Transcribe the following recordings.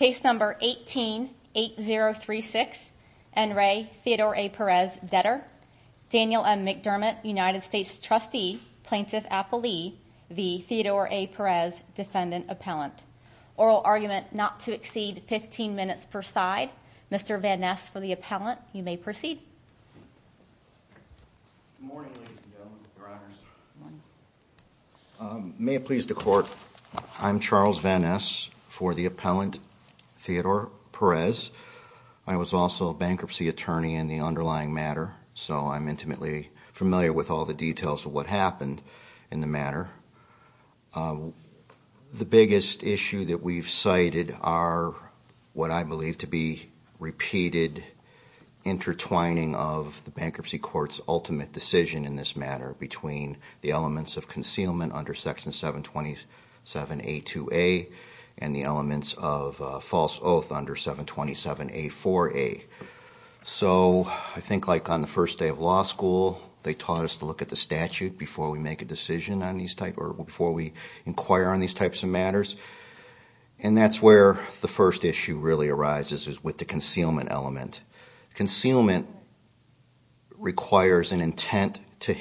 Daniel M. McDermott, United States Trustee, Plaintiff Appellee v. Theodore A Perez, Defendant Appellant. Oral argument not to exceed 15 minutes per side. Mr. Van Ness for the appellant. You may proceed. Good morning ladies and gentlemen, your honors. May it please the court, I'm Charles Van Ness for the appellant, Theodore Perez. I was also a bankruptcy attorney in the underlying matter, so I'm intimately familiar with all the details of what happened in the matter. The biggest issue that we've cited are what I believe to be repeated intertwining of the bankruptcy court's ultimate decision in this matter between the elements of concealment under section 727A2A and the elements of false oath under 727A4A. So I think like on the first day of law school, they taught us to look at the statute before we make a decision on these type or before we inquire on these types of matters. And that's where the first issue really arises is with the concealment element. Concealment requires an intent to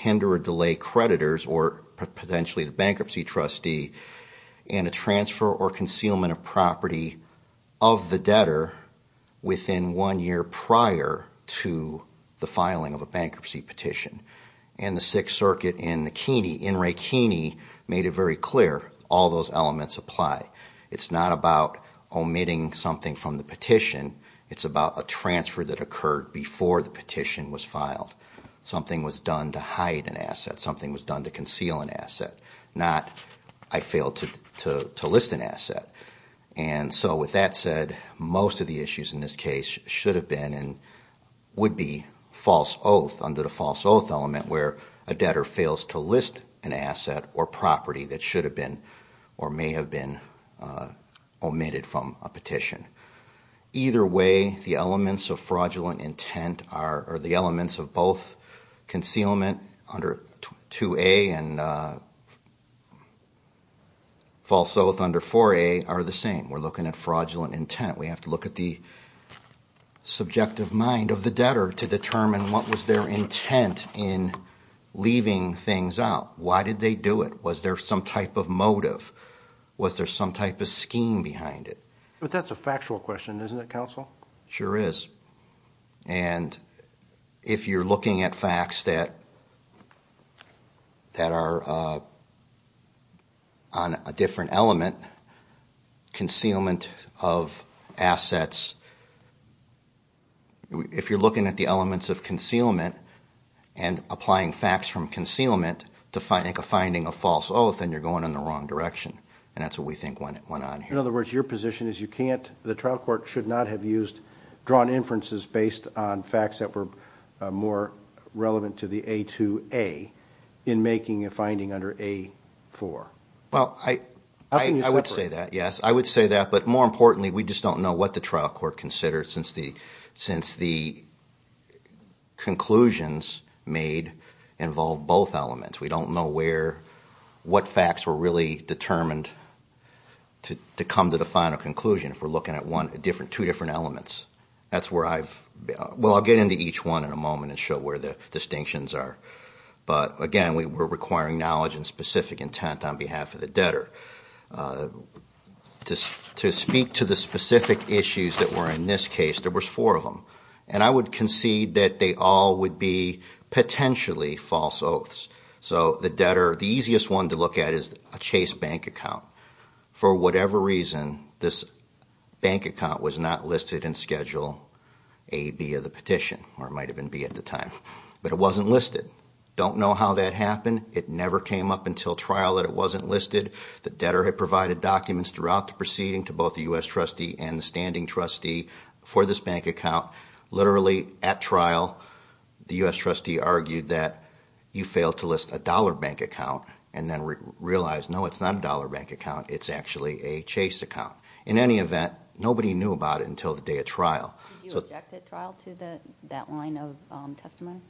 bankruptcy trustee and a transfer or concealment of property of the debtor within one year prior to the filing of a bankruptcy petition. And the Sixth Circuit in the Keeney, in Ray Keeney, made it very clear all those elements apply. It's not about omitting something from the petition, it's about a transfer that occurred before the petition was filed. Something was not, I failed to list an asset. And so with that said, most of the issues in this case should have been and would be false oath under the false oath element where a debtor fails to list an asset or property that should have been or may have been omitted from a petition. Either way, the elements of fraudulent intent are the elements of both concealment under 2A and false oath under 4A are the same. We're looking at fraudulent intent. We have to look at the subjective mind of the debtor to determine what was their intent in leaving things out. Why did they do it? Was there some type of motive? Was there some type of scheme behind it? But that's a factual question, isn't it, counsel? Sure is. And if you're looking at that are on a different element, concealment of assets, if you're looking at the elements of concealment and applying facts from concealment to finding a false oath, then you're going in the wrong direction. And that's what we think went on here. In other words, your position is you can't, the trial court should not have used, drawn inferences based on facts that were more relevant to the A2A in making a finding under A4. Well, I would say that, yes. I would say that. But more importantly, we just don't know what the trial court considered since the conclusions made involve both elements. We don't know where, what facts were really determined to come to the final conclusion. If we're looking at two different elements, that's where I've, well, I'll get into each one in a moment and show where the distinctions are. But again, we're requiring knowledge and specific intent on behalf of the debtor. To speak to the specific issues that were in this case, there was four of them. And I would concede that they all would be potentially false oaths. So the debtor, the easiest one to look at is a Chase bank account. For whatever reason, this bank account was not listed in Schedule A via the petition, or it might have been B at the time. But it wasn't listed. Don't know how that happened. It never came up until trial that it wasn't listed. The debtor had provided documents throughout the proceeding to both the U.S. trustee and the standing trustee for this bank account. Literally, at trial, the U.S. trustee argued that you failed to list a dollar bank account and then realized, no, it's not a dollar bank account. It's actually a Chase account. In any event, nobody knew about it until the day of trial. Did you object at trial to that line of testimony?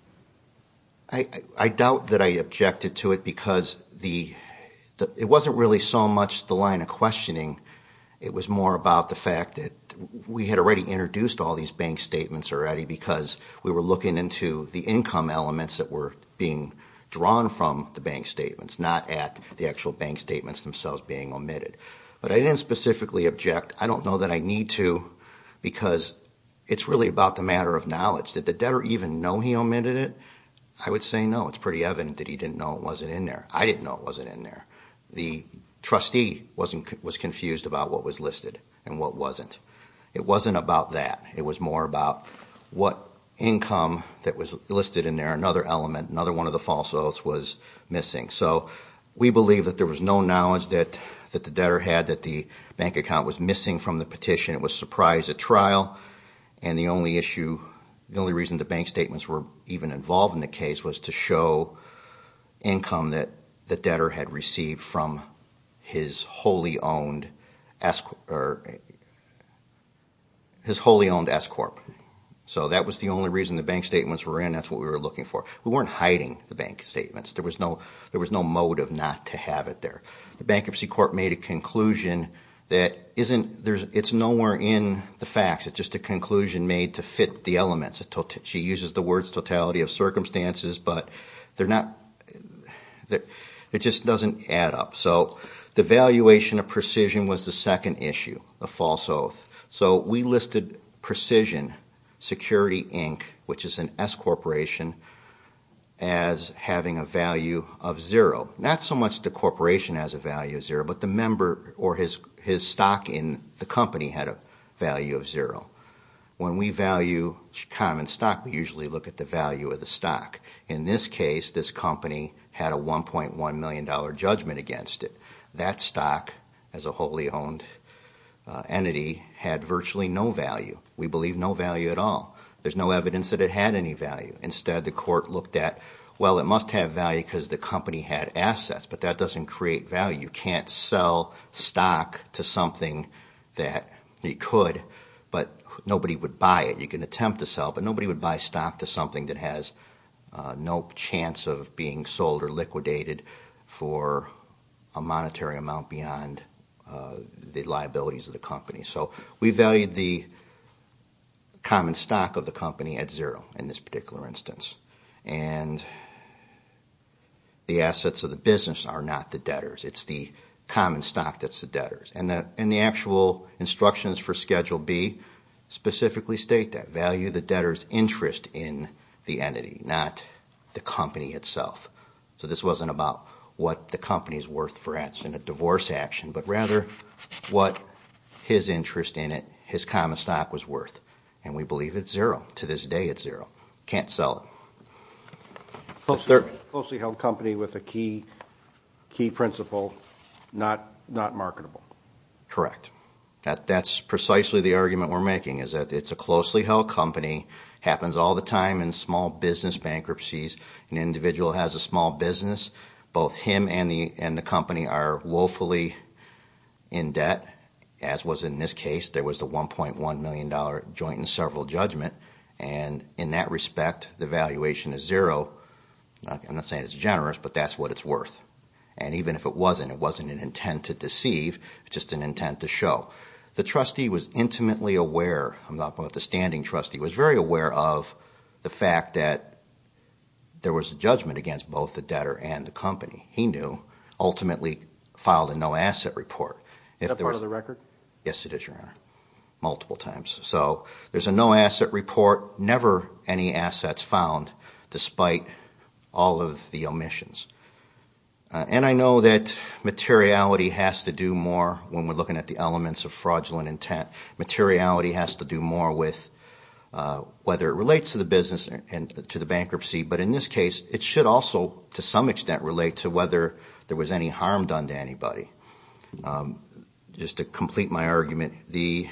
I doubt that I objected to it because it wasn't really so much the line of questioning. It was more about the fact that we had already introduced all these bank statements already because we were looking into the income elements that were being drawn from the bank statements, not at the actual bank statements themselves being omitted. But I didn't specifically object. I don't know that I need to because it's really about the matter of knowledge. Did the debtor even know he omitted it? I would say no. It's pretty evident that he didn't know it wasn't in there. I didn't know it wasn't in there. The trustee was confused about what was listed and what wasn't. It wasn't about that. It was more about what income that was listed in there, another element, another one of the false oaths was missing. So we believe that there was no knowledge that the debtor had that the bank account was missing from the petition. It was surprised at trial and the only issue, the only reason the bank statements were even involved in the case was to show income that the debtor had received from his wholly owned S Corp. So that was the only reason the bank statements were in. That's what we were looking for. We weren't hiding the bank statements. There was no motive not to have it there. The Bankruptcy Court made a conclusion that isn't, it's nowhere in the facts. It's just a conclusion made to fit the elements. She uses the words totality of circumstances but they're not, it just doesn't add up. So the valuation of precision was the second issue, the false oath. So we listed Precision Security Inc., which is an S Corporation, as having a value of zero. Not so much the corporation has a value of zero but the member or his stock in the company had a value of zero. When we value common stock we usually look at the value of the stock. In this case, this company had a $1.1 million judgment against it. That stock, as a wholly owned entity, had virtually no value. We believe no value at all. There's no evidence that it had any value. Instead the court looked at, well it must have value because the company had assets but that doesn't create value. You can't sell stock to something that it could but nobody would buy it. You can attempt to sell but nobody would buy stock to something that has no chance of being sold or liquidated for a monetary amount beyond the liabilities of the company. So we valued the, we valued common stock of the company at zero in this particular instance. And the assets of the business are not the debtors. It's the common stock that's the debtors. And the actual instructions for Schedule B specifically state that. Value the debtor's interest in the entity, not the company itself. So this wasn't about what the company is worth for us in a divorce action but rather what his interest in it, his common stock was worth. And we believe it's zero. To this day it's zero. Can't sell it. It's a closely held company with a key principle, not marketable. Correct. That's precisely the argument we're making is that it's a closely held company, happens all the time in small business bankruptcies. An individual has a small business, both him and the company are woefully in debt, as was in this case. There was the $1.1 million joint and several judgment and in that respect the valuation is zero. I'm not saying it's generous but that's what it's worth. And even if it wasn't, it wasn't an intent to deceive, just an intent to show. The trustee was intimately aware, I'm talking about the standing trustee, was very aware of the fact that there was a judgment against both the debtor and the ultimately filed a no asset report. Is that part of the record? Yes it is, your honor, multiple times. So there's a no asset report, never any assets found despite all of the omissions. And I know that materiality has to do more when we're looking at the elements of fraudulent intent. Materiality has to do more with whether it relates to the business and to the bankruptcy. But in this case, it should also to some extent relate to whether there was any harm done to anybody. Just to complete my argument, the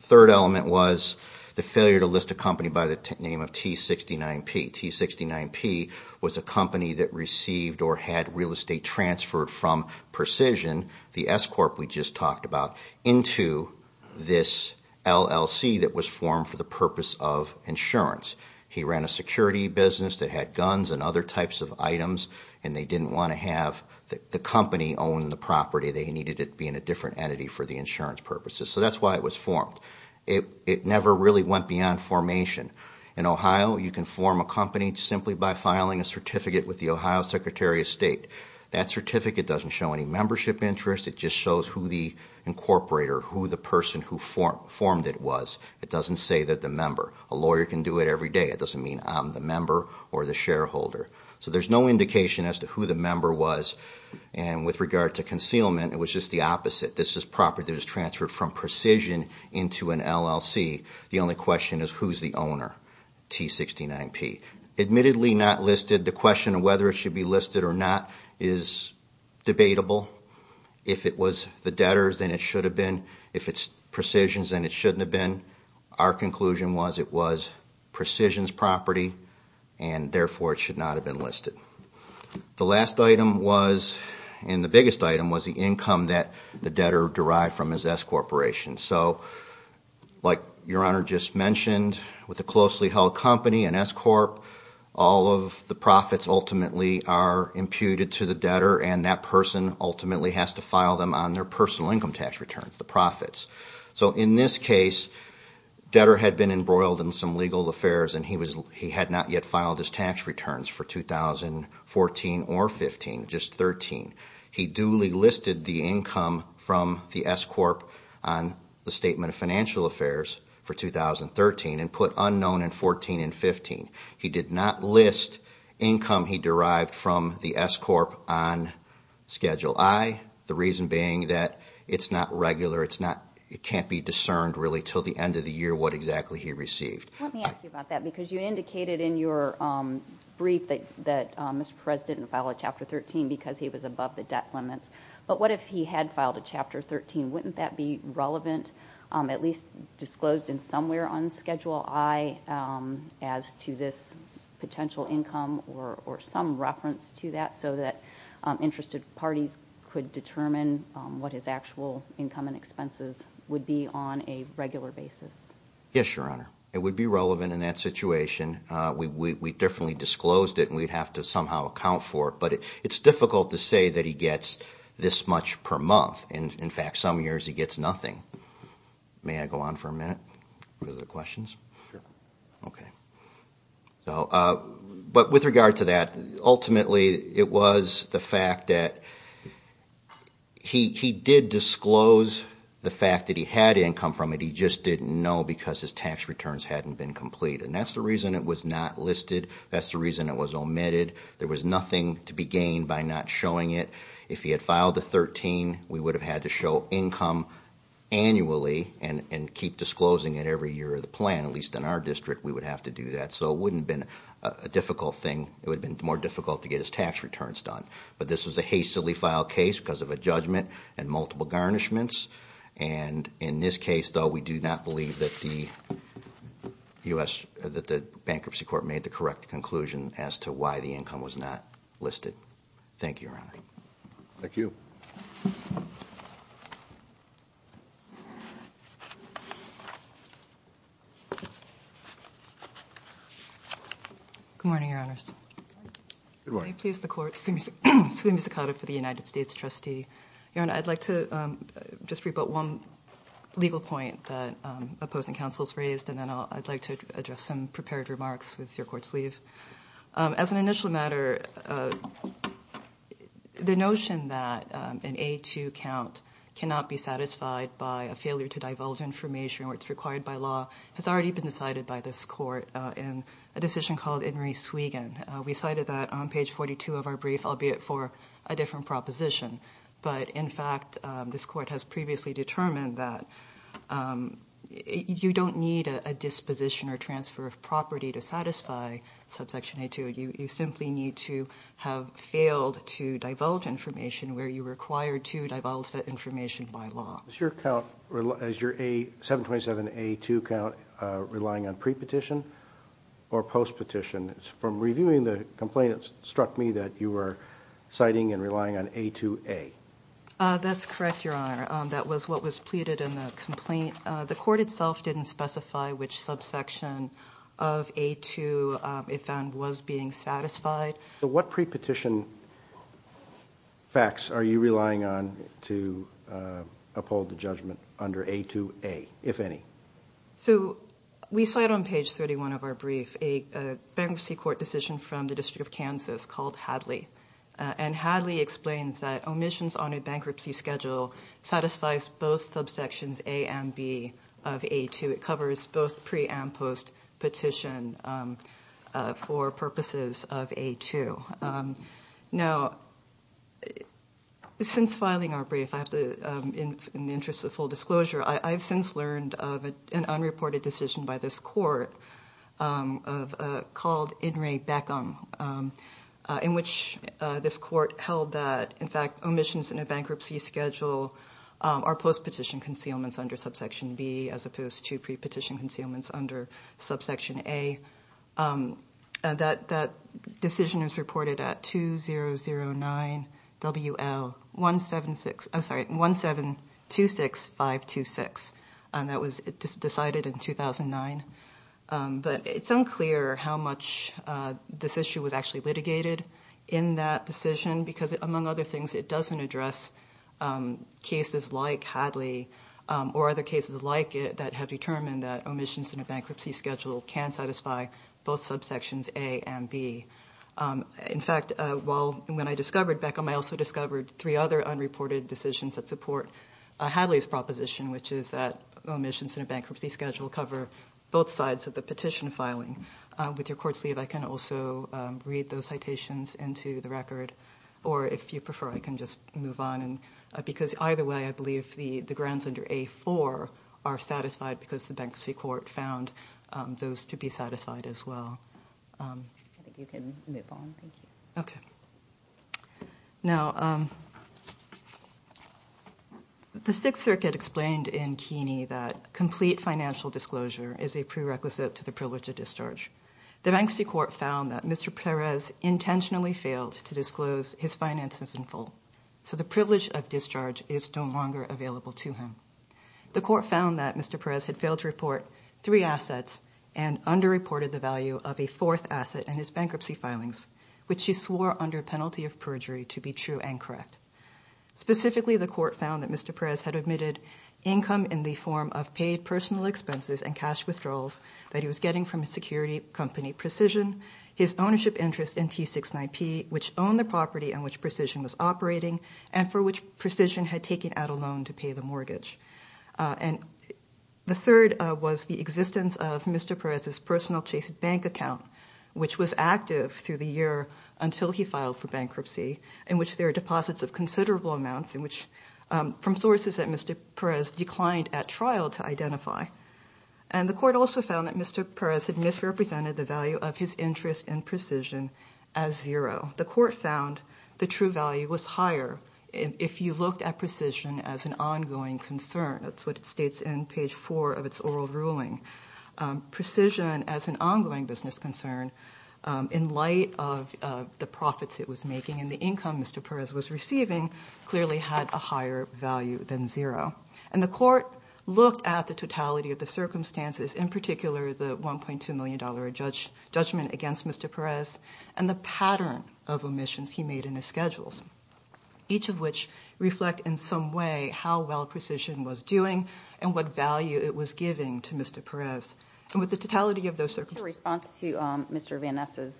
third element was the failure to list a company by the name of T69P. T69P was a company that received or had real estate transferred from Precision, the S Corp we just talked about, into this form for the purpose of insurance. He ran a security business that had guns and other types of items and they didn't want to have the company own the property. They needed it being a different entity for the insurance purposes. So that's why it was formed. It never really went beyond formation. In Ohio, you can form a company simply by filing a certificate with the Ohio Secretary of State. That certificate doesn't show any membership interest. It just shows who the incorporator, who the person who formed it was. It doesn't say that the member. A lawyer can do it every day. It doesn't mean I'm the member or the shareholder. So there's no indication as to who the member was. And with regard to concealment, it was just the opposite. This is property that was transferred from Precision into an LLC. The only question is who's the owner, T69P. Admittedly not listed, the question of whether it should be listed or not is debatable. If it was the debtor's, then it should have been. If it's Precision's, then it shouldn't have been. Our conclusion was it was Precision's property and therefore it should not have been listed. The last item was, and the biggest item, was the income that the debtor derived from his S-Corporation. So like Your Honor just mentioned, with a closely held company, an S-Corp, all of the profits ultimately are imputed to the debtor and that person ultimately has to file them on their personal income tax returns, the profits. So in this case, the debtor had been embroiled in some legal affairs and he had not yet filed his tax returns for 2014 or 2015, just 2013. He duly listed the income from the S-Corp on the Statement of Financial Income he derived from the S-Corp on Schedule I, the reason being that it's not regular, it's not, it can't be discerned really until the end of the year what exactly he received. Let me ask you about that because you indicated in your brief that Mr. Perez didn't file a Chapter 13 because he was above the debt limits. But what if he had filed a Chapter 13? Wouldn't that be relevant, at least disclosed in somewhere on Schedule I as to this potential income or some reference to that so that interested parties could determine what his actual income and expenses would be on a regular basis? Yes, Your Honor. It would be relevant in that situation. We definitely disclosed it and we'd have to somehow account for it. But it's difficult to say that he gets this much per month. In fact, some years he gets nothing. May I go on for a minute with the questions? Sure. Okay. But with regard to that, ultimately it was the fact that he did disclose the fact that he had income from it, he just didn't know because his tax returns hadn't been complete. And that's the reason it was not listed, that's the reason it was omitted. There was nothing to be gained by not showing it. If he had filed the 13, we would have had to show income annually and keep disclosing it every year of the plan, at least in our district we would have to do that. So it wouldn't have been a difficult thing. It would have been more difficult to get his tax returns done. But this was a hastily filed case because of a judgment and multiple garnishments. And in this case, though, we do not believe that the bankruptcy court made the correct conclusion as to why the income was not listed. Thank you, Your Honor. Thank you. Good morning, Your Honors. Good morning. May it please the Court, Sue Misakata for the United States Trustee. Your Honor, I'd like to just rebut one legal point that opposing counsels As an initial matter, the notion that an A-2 count cannot be satisfied by a failure to divulge information where it's required by law has already been decided by this Court in a decision called In Re Swiegen. We cited that on page 42 of our brief, albeit for a different proposition. But in fact, this Court has previously determined that you don't need a disposition or transfer of property to satisfy subsection A-2. You simply need to have failed to divulge information where you required to divulge that information by law. Is your count, is your 727-A-2 count relying on pre-petition or post-petition? From reviewing the complaint, it struck me that you were citing and relying on A-2-A. That's correct, Your Honor. That was what was pleaded in the complaint. The Court itself didn't specify which subsection of A-2 it found was being satisfied. So what pre-petition facts are you relying on to uphold the judgment under A-2-A, if any? So we cite on page 31 of our brief a bankruptcy court decision from the District of Kansas called Hadley. And Hadley explains that omissions on a bankruptcy schedule satisfies both subsections A and B of A-2. It covers both pre and post-petition for purposes of A-2. Now, since filing our brief, in the interest of full disclosure, I've since learned of an unreported decision by this court called In re Beckham, in which this court held that, in fact, omissions in a bankruptcy schedule are post-petition concealments under subsection B as opposed to pre-petition concealments under subsection A. That decision is reported at 2009 WL1726526. And that was decided in was actually litigated in that decision because, among other things, it doesn't address cases like Hadley or other cases like it that have determined that omissions in a bankruptcy schedule can satisfy both subsections A and B. In fact, when I discovered Beckham, I also discovered three other unreported decisions that support Hadley's proposition, which is that omissions in a bankruptcy schedule cover both sides of the petition filing. With your court's leave, I can also read those citations into the record, or if you prefer, I can just move on. Because either way, I believe the grounds under A-4 are satisfied because the Bankruptcy Court found those to be satisfied as well. I think you can move on. Thank you. Okay. Now, the Sixth Circuit explained in Keeney that complete financial disclosure is a prerequisite to the privilege of discharge. The Bankruptcy Court found that Mr. Perez intentionally failed to disclose his finances in full, so the privilege of discharge is no longer available to him. The Court found that Mr. Perez had failed to report three assets and underreported the value of a fourth asset in his bankruptcy filings, which he swore under penalty of perjury to be true and correct. Specifically, the Court found that Mr. Perez had omitted income in the form of paid personal expenses and cash withdrawals that he was getting from a security company, Precision, his ownership interest in T69P, which owned the property on which Precision was operating, and for which Precision had taken out a loan to pay the mortgage. The third was the existence of Mr. Perez's personal Chase Bank account, which was active through the year until he filed for bankruptcy, in which there are deposits of considerable amounts from sources that Mr. Perez declined at trial to identify. And the Court also found that Mr. Perez had misrepresented the value of his interest in Precision as zero. The Court found the true value was higher if you looked at Precision as an ongoing concern. That's what it states in page four of its oral ruling. Precision as an ongoing business concern, in light of the profits it was making and the income Mr. Perez was receiving, clearly had a higher value than zero. And the Court looked at the totality of the circumstances, in particular the $1.2 million judgment against Mr. Perez and the pattern of omissions he made in his schedules, each of which reflect in some way how well Precision was doing and what value it was giving to Mr. Perez. And with the totality of those circumstances... In response to Mr. Van Ness's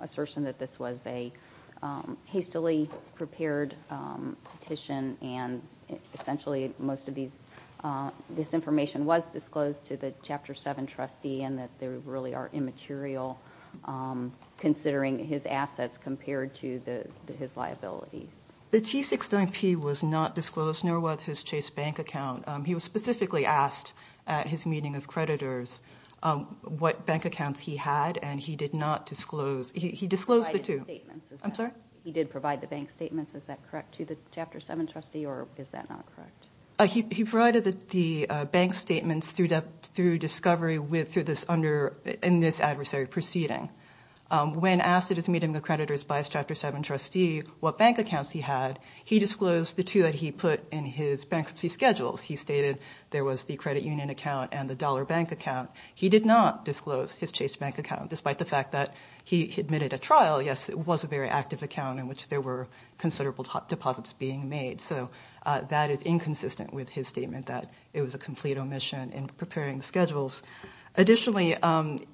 assertion that this was a hastily prepared petition and essentially most of this information was disclosed to the Chapter 7 trustee and that they really are immaterial, considering his assets compared to his liabilities. The T69P was not disclosed, nor was his Chase Bank account. He was specifically asked at his meeting of creditors what bank accounts he had and he did not disclose. He disclosed He provided statements. I'm sorry? He did provide the bank statements. Is that correct to the Chapter 7 trustee or is that not correct? He provided the bank statements through discovery in this adversary proceeding. When asked at his meeting of creditors by his Chapter 7 trustee what bank accounts he had, he disclosed the two that he put in his bankruptcy schedules. He stated there was the credit union account and the dollar bank account. He did not disclose his Chase Bank account, despite the fact that he admitted at trial, yes, it was a very active account in which there were considerable deposits being made. So that is inconsistent with his statement that it was a complete omission in preparing schedules. Additionally,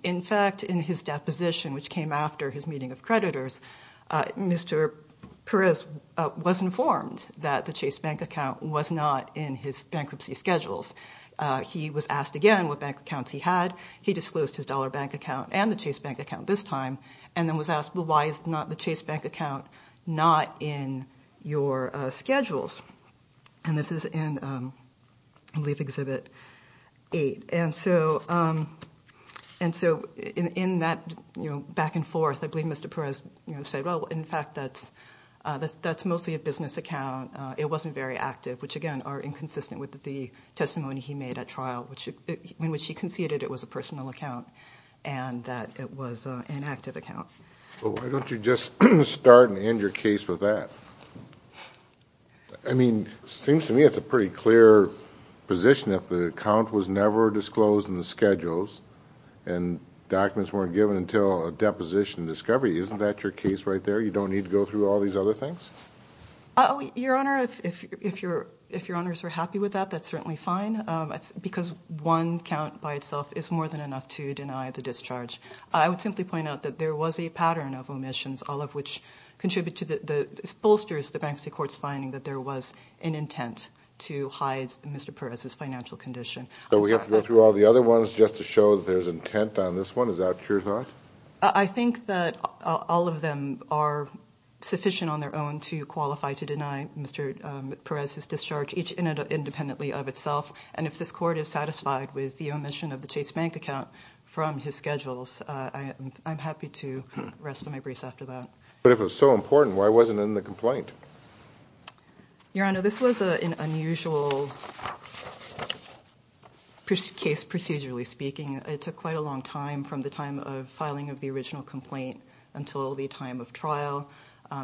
in fact, in his deposition, which came after his meeting of creditors, Mr. Perez was informed that the Chase Bank account was not in his bankruptcy schedules. He was asked again what bank accounts he had. He disclosed his dollar bank account and the Chase Bank account this time and then was asked, well, why is the Chase Bank account not in your schedules? And this is in, I believe, Exhibit 8. And so in that back and forth, I believe Mr. Perez said, well, in fact, that's mostly a business account. It wasn't very active, which, again, are inconsistent with the testimony he made at trial in which he conceded it was a personal account and that it was an active account. Well, why don't you just start and end your case with that? I mean, it seems to me it's a pretty clear position that the account was never disclosed in the schedules and documents weren't given until a deposition discovery. Isn't that your case right there? You don't need to go through all these other things? Your Honor, if your honors are happy with that, that's certainly fine because one count by itself is more than enough to deny the discharge. I would simply point out that there was a pattern of omissions, all of which contribute to the bolsters the bankruptcy court's finding that there was an intent to hide Mr. Perez's financial condition. So we have to go through all the other ones just to show that there's intent on this one? Is that your thought? I think that all of them are sufficient on their own to qualify to deny Mr. Perez's discharge, each independently of itself. And if this court is satisfied with the omission of the Chase Bank account from his schedules, I'm happy to rest on my brace after that. But if it was so important, why wasn't it in the complaint? Your Honor, this was an unusual case, procedurally speaking. It took quite a long time from the time of filing of the original complaint until the time of trial.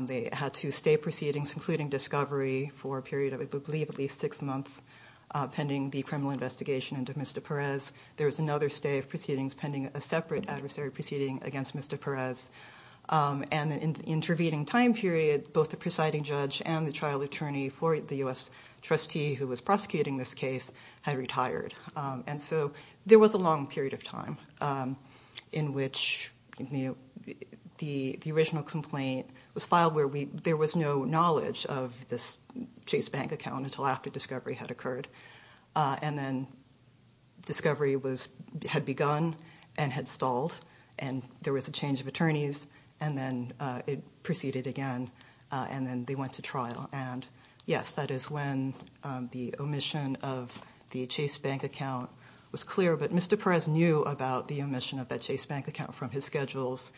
They had to stay proceedings, including discovery, for a period of, I believe, at least six months, pending the criminal investigation into Mr. Perez. There was another stay of proceedings pending a separate adversary proceeding against Mr. Perez. And in the intervening time period, both the presiding judge and the trial attorney for the U.S. trustee who was prosecuting this case had retired. And so there was a long period of time in which the original complaint was filed where there was no knowledge of this Chase Bank account until after discovery had occurred. And then discovery had begun and had stalled, and there was a change of attorneys, and then it proceeded again, and then they went to trial. And yes, that is when the omission of the Chase Bank account was clear. But Mr. Perez knew about the omission of that Chase Bank account from his schedules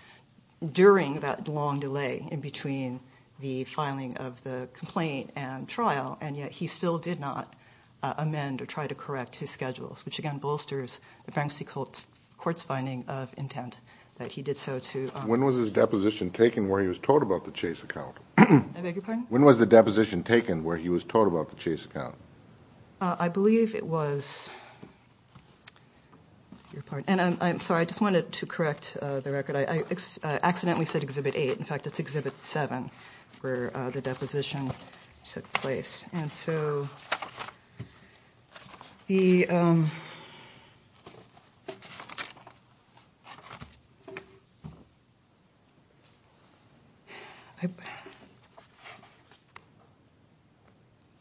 during that long delay in between the filing of the complaint and trial, and yet he still did not amend or try to correct his schedules, which, again, bolsters the Frank C. Colt's court's finding of intent that he did so to... When was his deposition taken where he was told about the Chase account? I beg your pardon? When was the deposition taken where he was told about the Chase account? I believe it was... I'm sorry, I just wanted to correct the record. I accidentally said Exhibit 8. In fact, it's Exhibit 7, where the deposition took place. And so the...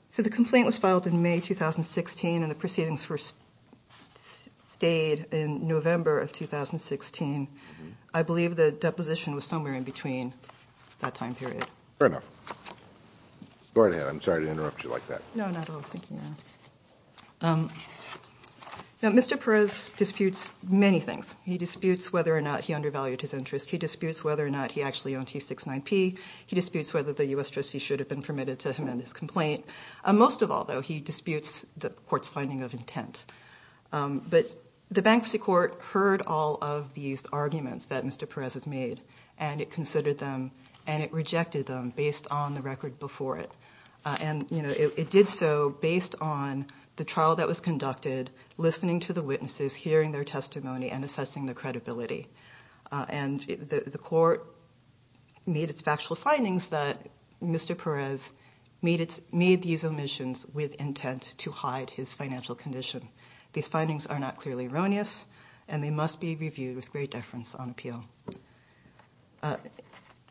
So the complaint was filed in May 2016, and the proceedings were stayed in November of 2016. I I'm sorry to interrupt you like that. No, not at all. Thank you, Your Honor. Now, Mr. Perez disputes many things. He disputes whether or not he undervalued his interest. He disputes whether or not he actually owned T69P. He disputes whether the U.S. trustee should have been permitted to amend his complaint. Most of all, though, he disputes the court's finding of intent. But the Bankruptcy Court heard all of these arguments that Mr. Perez has made, and it considered them, and it rejected them based on the record before it. And, you know, it did so based on the trial that was conducted, listening to the witnesses, hearing their testimony, and assessing their credibility. And the court made its factual findings that Mr. Perez made these omissions with intent to hide his financial condition. These findings are not clearly erroneous, and they must be reviewed with great deference on appeal.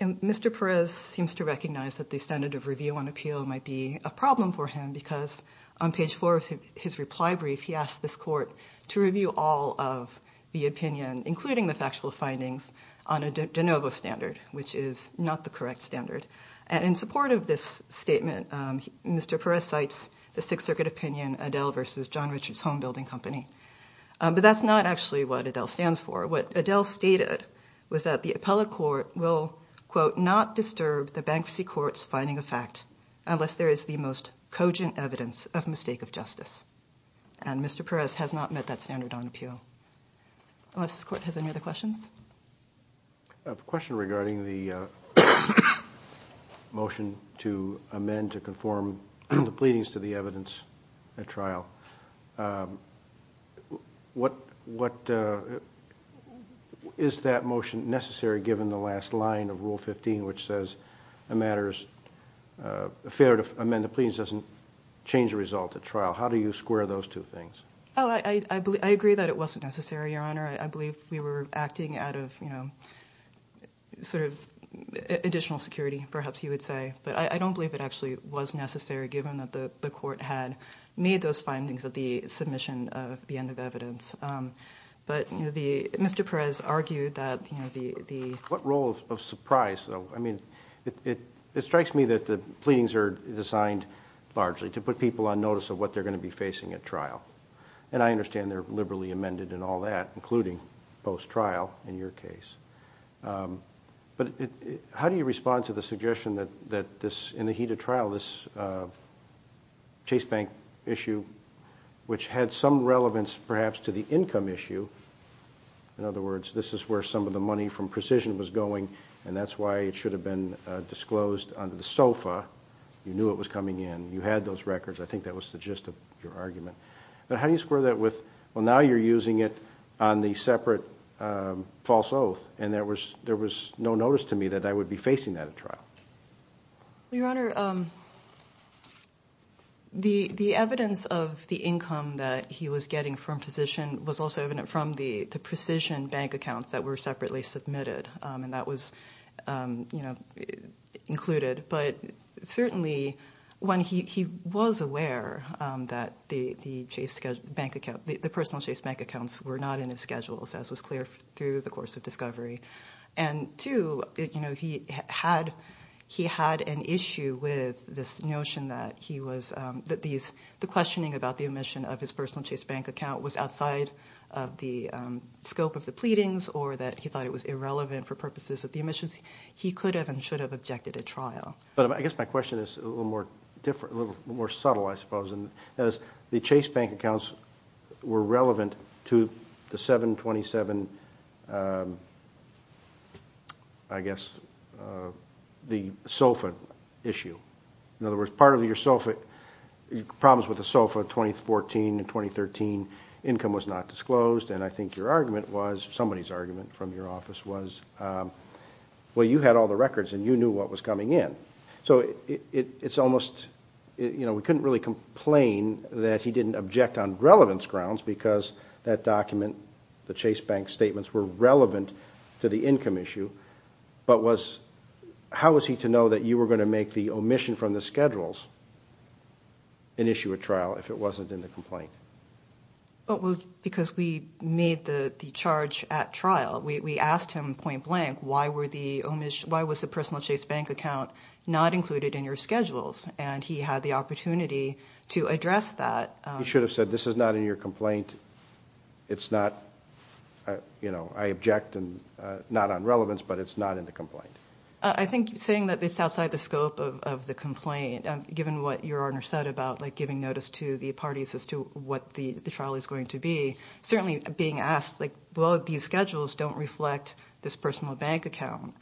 And Mr. Perez seems to recognize that the standard of review on appeal might be a problem for him, because on page 4 of his reply brief, he asked this court to review all of the opinion, including the factual findings, on a de novo standard, which is not the correct standard. And in support of this statement, Mr. Perez cites the Sixth Circuit opinion, Adele v. John Richards Home Building Company. But that's not actually what Adele stands for. What Adele stated was that the appellate court will, quote, not disturb the Bankruptcy Court's finding of fact unless there is the most cogent evidence of mistake of justice. And Mr. Perez has not met that standard on appeal. Unless this court has any other questions? A question regarding the motion to amend to conform the pleadings to the evidence at trial. Is that motion necessary, given the last line of Rule 15, which says a matter is fair to amend the pleadings, doesn't change the result at trial? How do you square those two things? Oh, I agree that it wasn't necessary, Your Honor. I believe we were acting out of sort of additional security, perhaps you would say. But I don't believe it actually was necessary, given that the court had made those findings at the submission of the end of evidence. But Mr. Perez argued that the... What role of surprise, though? I mean, it strikes me that the pleadings are designed largely to put people on notice of what they're going to be facing at trial. And I understand they're liberally amended and all that, including post-trial in your case. But how do you respond to the suggestion that in the heat of trial, this Chase Bank issue, which had some relevance perhaps to the income issue, in other words, this is where some of the money from Precision was going, and that's why it should have been disclosed under the SOFA. You knew it was coming in. You had those records. I think that was the gist of your argument. But how do you square that with, well, now you're using it on the separate false oath, and there was no notice to me that I would be facing that at trial? Your Honor, the evidence of the income that he was getting from Precision was also evident from the Precision bank accounts that were separately submitted, and that was included. But certainly, he was aware that the personal Chase Bank accounts were not in his schedules, as was clear through the course of discovery. And two, he had an issue with this notion that the questioning about the omission of his personal Chase Bank account was outside of the scope of the pleadings, or that he thought it was irrelevant for purposes of the omissions. He could have and should have objected at trial. But I guess my question is a little more subtle, I suppose. And that is, the Chase Bank accounts were relevant to the 727, I guess, the SOFA issue. In other words, part of your SOFA, problems with the SOFA 2014 and 2013, income was not disclosed. And I think your argument was, somebody's argument from your office was, well, you had all the records and you knew what was coming in. So it's almost, you know, we couldn't really complain that he didn't object on relevance grounds, because that document, the Chase Bank statements were relevant to the income issue. But how was he to know that you were going to make the omission from the schedules and issue a trial if it wasn't in the complaint? Well, it was because we made the charge at trial. We asked him point-blank, why was the personal Chase Bank account not included in your schedules? And he had the opportunity to address that. You should have said, this is not in your complaint. It's not, you know, I object, and not on relevance, but it's not in the complaint. I think saying that it's outside the scope of the complaint, given what your Honor said about giving notice to the parties as to what the trial is going to be, certainly being asked, well, these schedules don't reflect this personal bank account,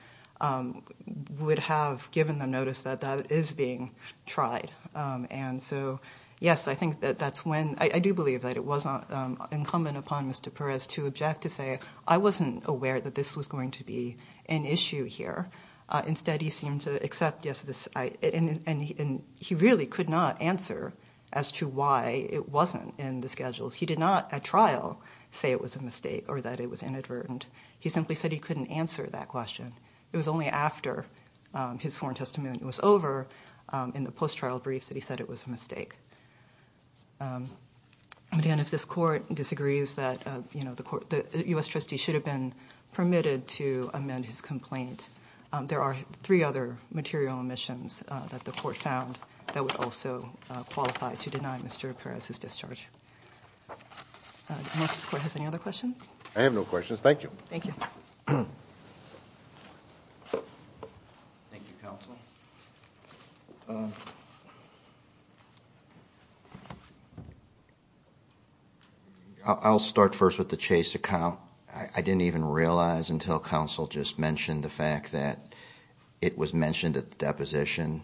would have given them notice that that is being tried. And so, yes, I think that that's when, I do believe that it was incumbent upon Mr. Perez to object to say, I wasn't aware that this was going to be an issue here. Instead, he seemed to accept, yes, this, and he really could not answer as to why it wasn't in the schedules. He did not, at trial, say it was a mistake or that it was inadvertent. He simply said he couldn't answer that question. It was only after his sworn testimony was over in the post-trial briefs that he said it was a mistake. And again, if this Court disagrees that, you know, the U.S. trustee should have been permitted to amend his complaint, there are three other material omissions that the Court found that would also qualify to deny Mr. Perez his discharge. Unless this Court has any other questions? I have no questions. Thank you. Thank you. Thank you, Counsel. I'll start first with the Chase account. I didn't even realize until Counsel just mentioned the fact that it was mentioned at the deposition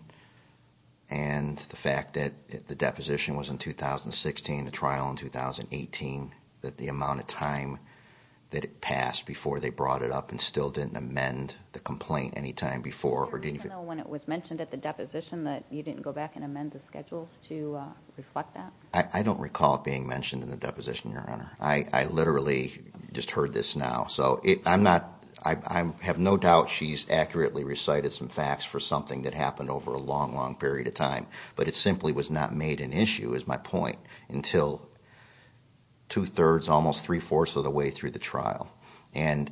and the fact that the deposition was in 2016, the trial in 2018, that the amount of time that it passed before they brought it up and still didn't amend the complaint any time before. Do you recall when it was mentioned at the deposition that you didn't go back and amend the schedules to reflect that? I don't recall it being mentioned in the deposition, Your Honor. I literally just heard this now. I have no doubt she's accurately recited some facts for something that happened over a long, long period of time, but it simply was not made an issue, is my point, until two-thirds, almost three-fourths of the way through the trial. And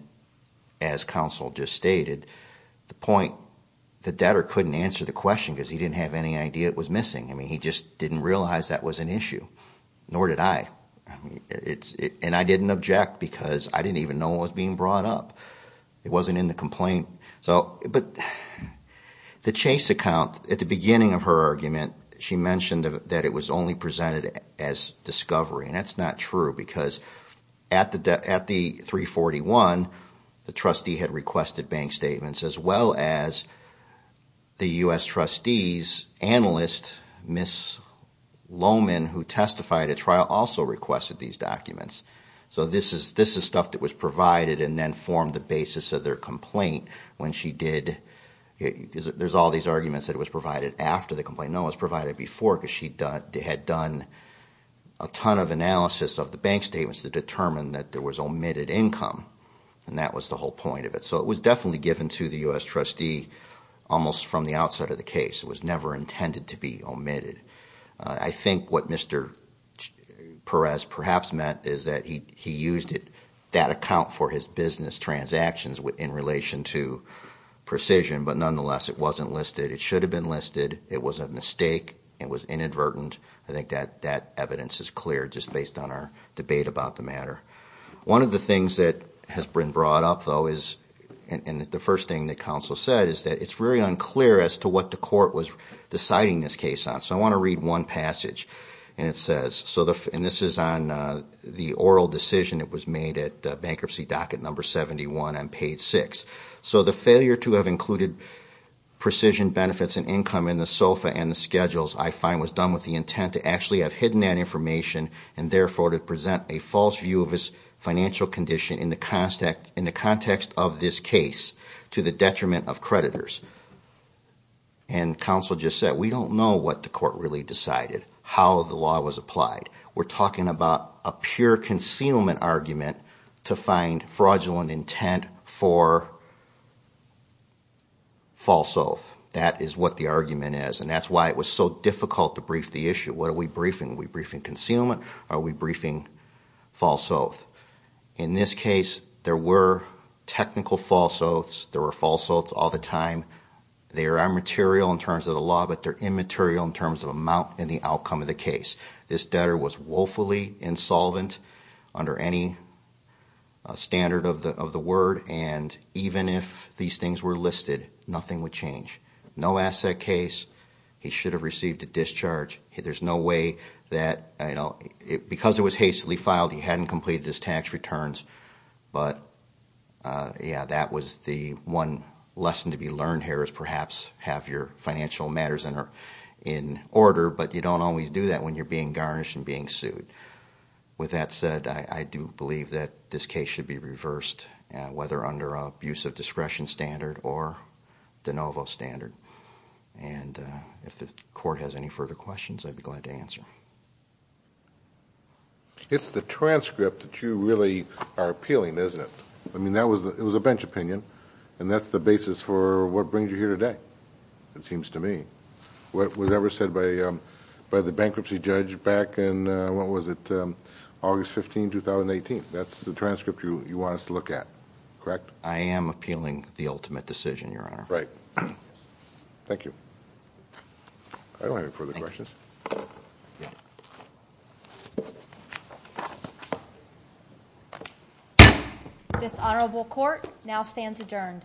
as Counsel just stated, the point, the debtor couldn't answer the question because he didn't have any idea it was missing. I mean, he just didn't realize that was an issue, nor did I. And I didn't object because I didn't even know it was being brought up. It wasn't in the complaint. But the Chase account, at the beginning of her argument, she mentioned that it was only presented as discovery. And that's not true because at the 341, the trustee had requested bank statements as well as the U.S. trustee's analyst, Ms. Lohman, who testified at trial, also requested these documents. So this is stuff that was provided and then formed the basis of their complaint when she did. There's all these arguments that it was provided after the complaint. No, it was provided before because she had done a ton of analysis of the bank statements to determine that there was omitted income. And that was the whole point of it. So it was definitely given to the U.S. trustee almost from the outside of the case. It was never intended to be omitted. I think what Mr. Perez perhaps meant is that he used it, that account for his business transactions in relation to precision. But nonetheless, it wasn't listed. It should have been listed. It was a mistake. It was inadvertent. I think that evidence is clear just based on our debate about the matter. One of the things that has been brought up, though, is, and the first thing that counsel said, is that it's very unclear as to what the court was deciding this case on. So I want to read one passage. And it says, and this is on the oral decision that was made at bankruptcy docket number 71 on page 6. So the failure to have included precision benefits and income in the SOFA and the schedules, I find, was done with the intent to actually have hidden that information and therefore to present a false view of his financial condition in the context of this case to the detriment of creditors. And counsel just said, we don't know what the court really decided, how the law was applied. We're talking about a pure concealment argument to find fraudulent intent for false oath. That is what the argument is. And that's why it was so difficult to brief the issue. What are we briefing? Are we briefing concealment? Are we briefing false oath? In this case, there were technical false oaths. There were false oaths all the time. They are immaterial in terms of the law, but they're immaterial in terms of amount and the outcome of the case. This debtor was woefully insolvent under any standard of the word. And even if these things were listed, nothing would change. No asset case. He should have received a discharge. There's no way that, you know, because it was hastily filed, he hadn't completed his tax returns. But yeah, that was the one lesson to be learned here is perhaps have your financial matters in order, but you don't always do that when you're being garnished and being sued. With that said, I do believe that this case should be reversed, whether under an abuse of discretion standard or de novo standard. And if the court has any further questions, I'd be glad to answer. It's the transcript that you really are appealing, isn't it? I mean, it was a bench opinion, and that's the basis for what brings you here today, it seems to me. What was ever said by the bankruptcy judge back in, what was it, August 15, 2018. That's the transcript you want us to look at, correct? I am appealing the ultimate decision, Your Honor. Right. Thank you. I don't have any further questions. Thank you, Your Honor. This honorable court now stands adjourned.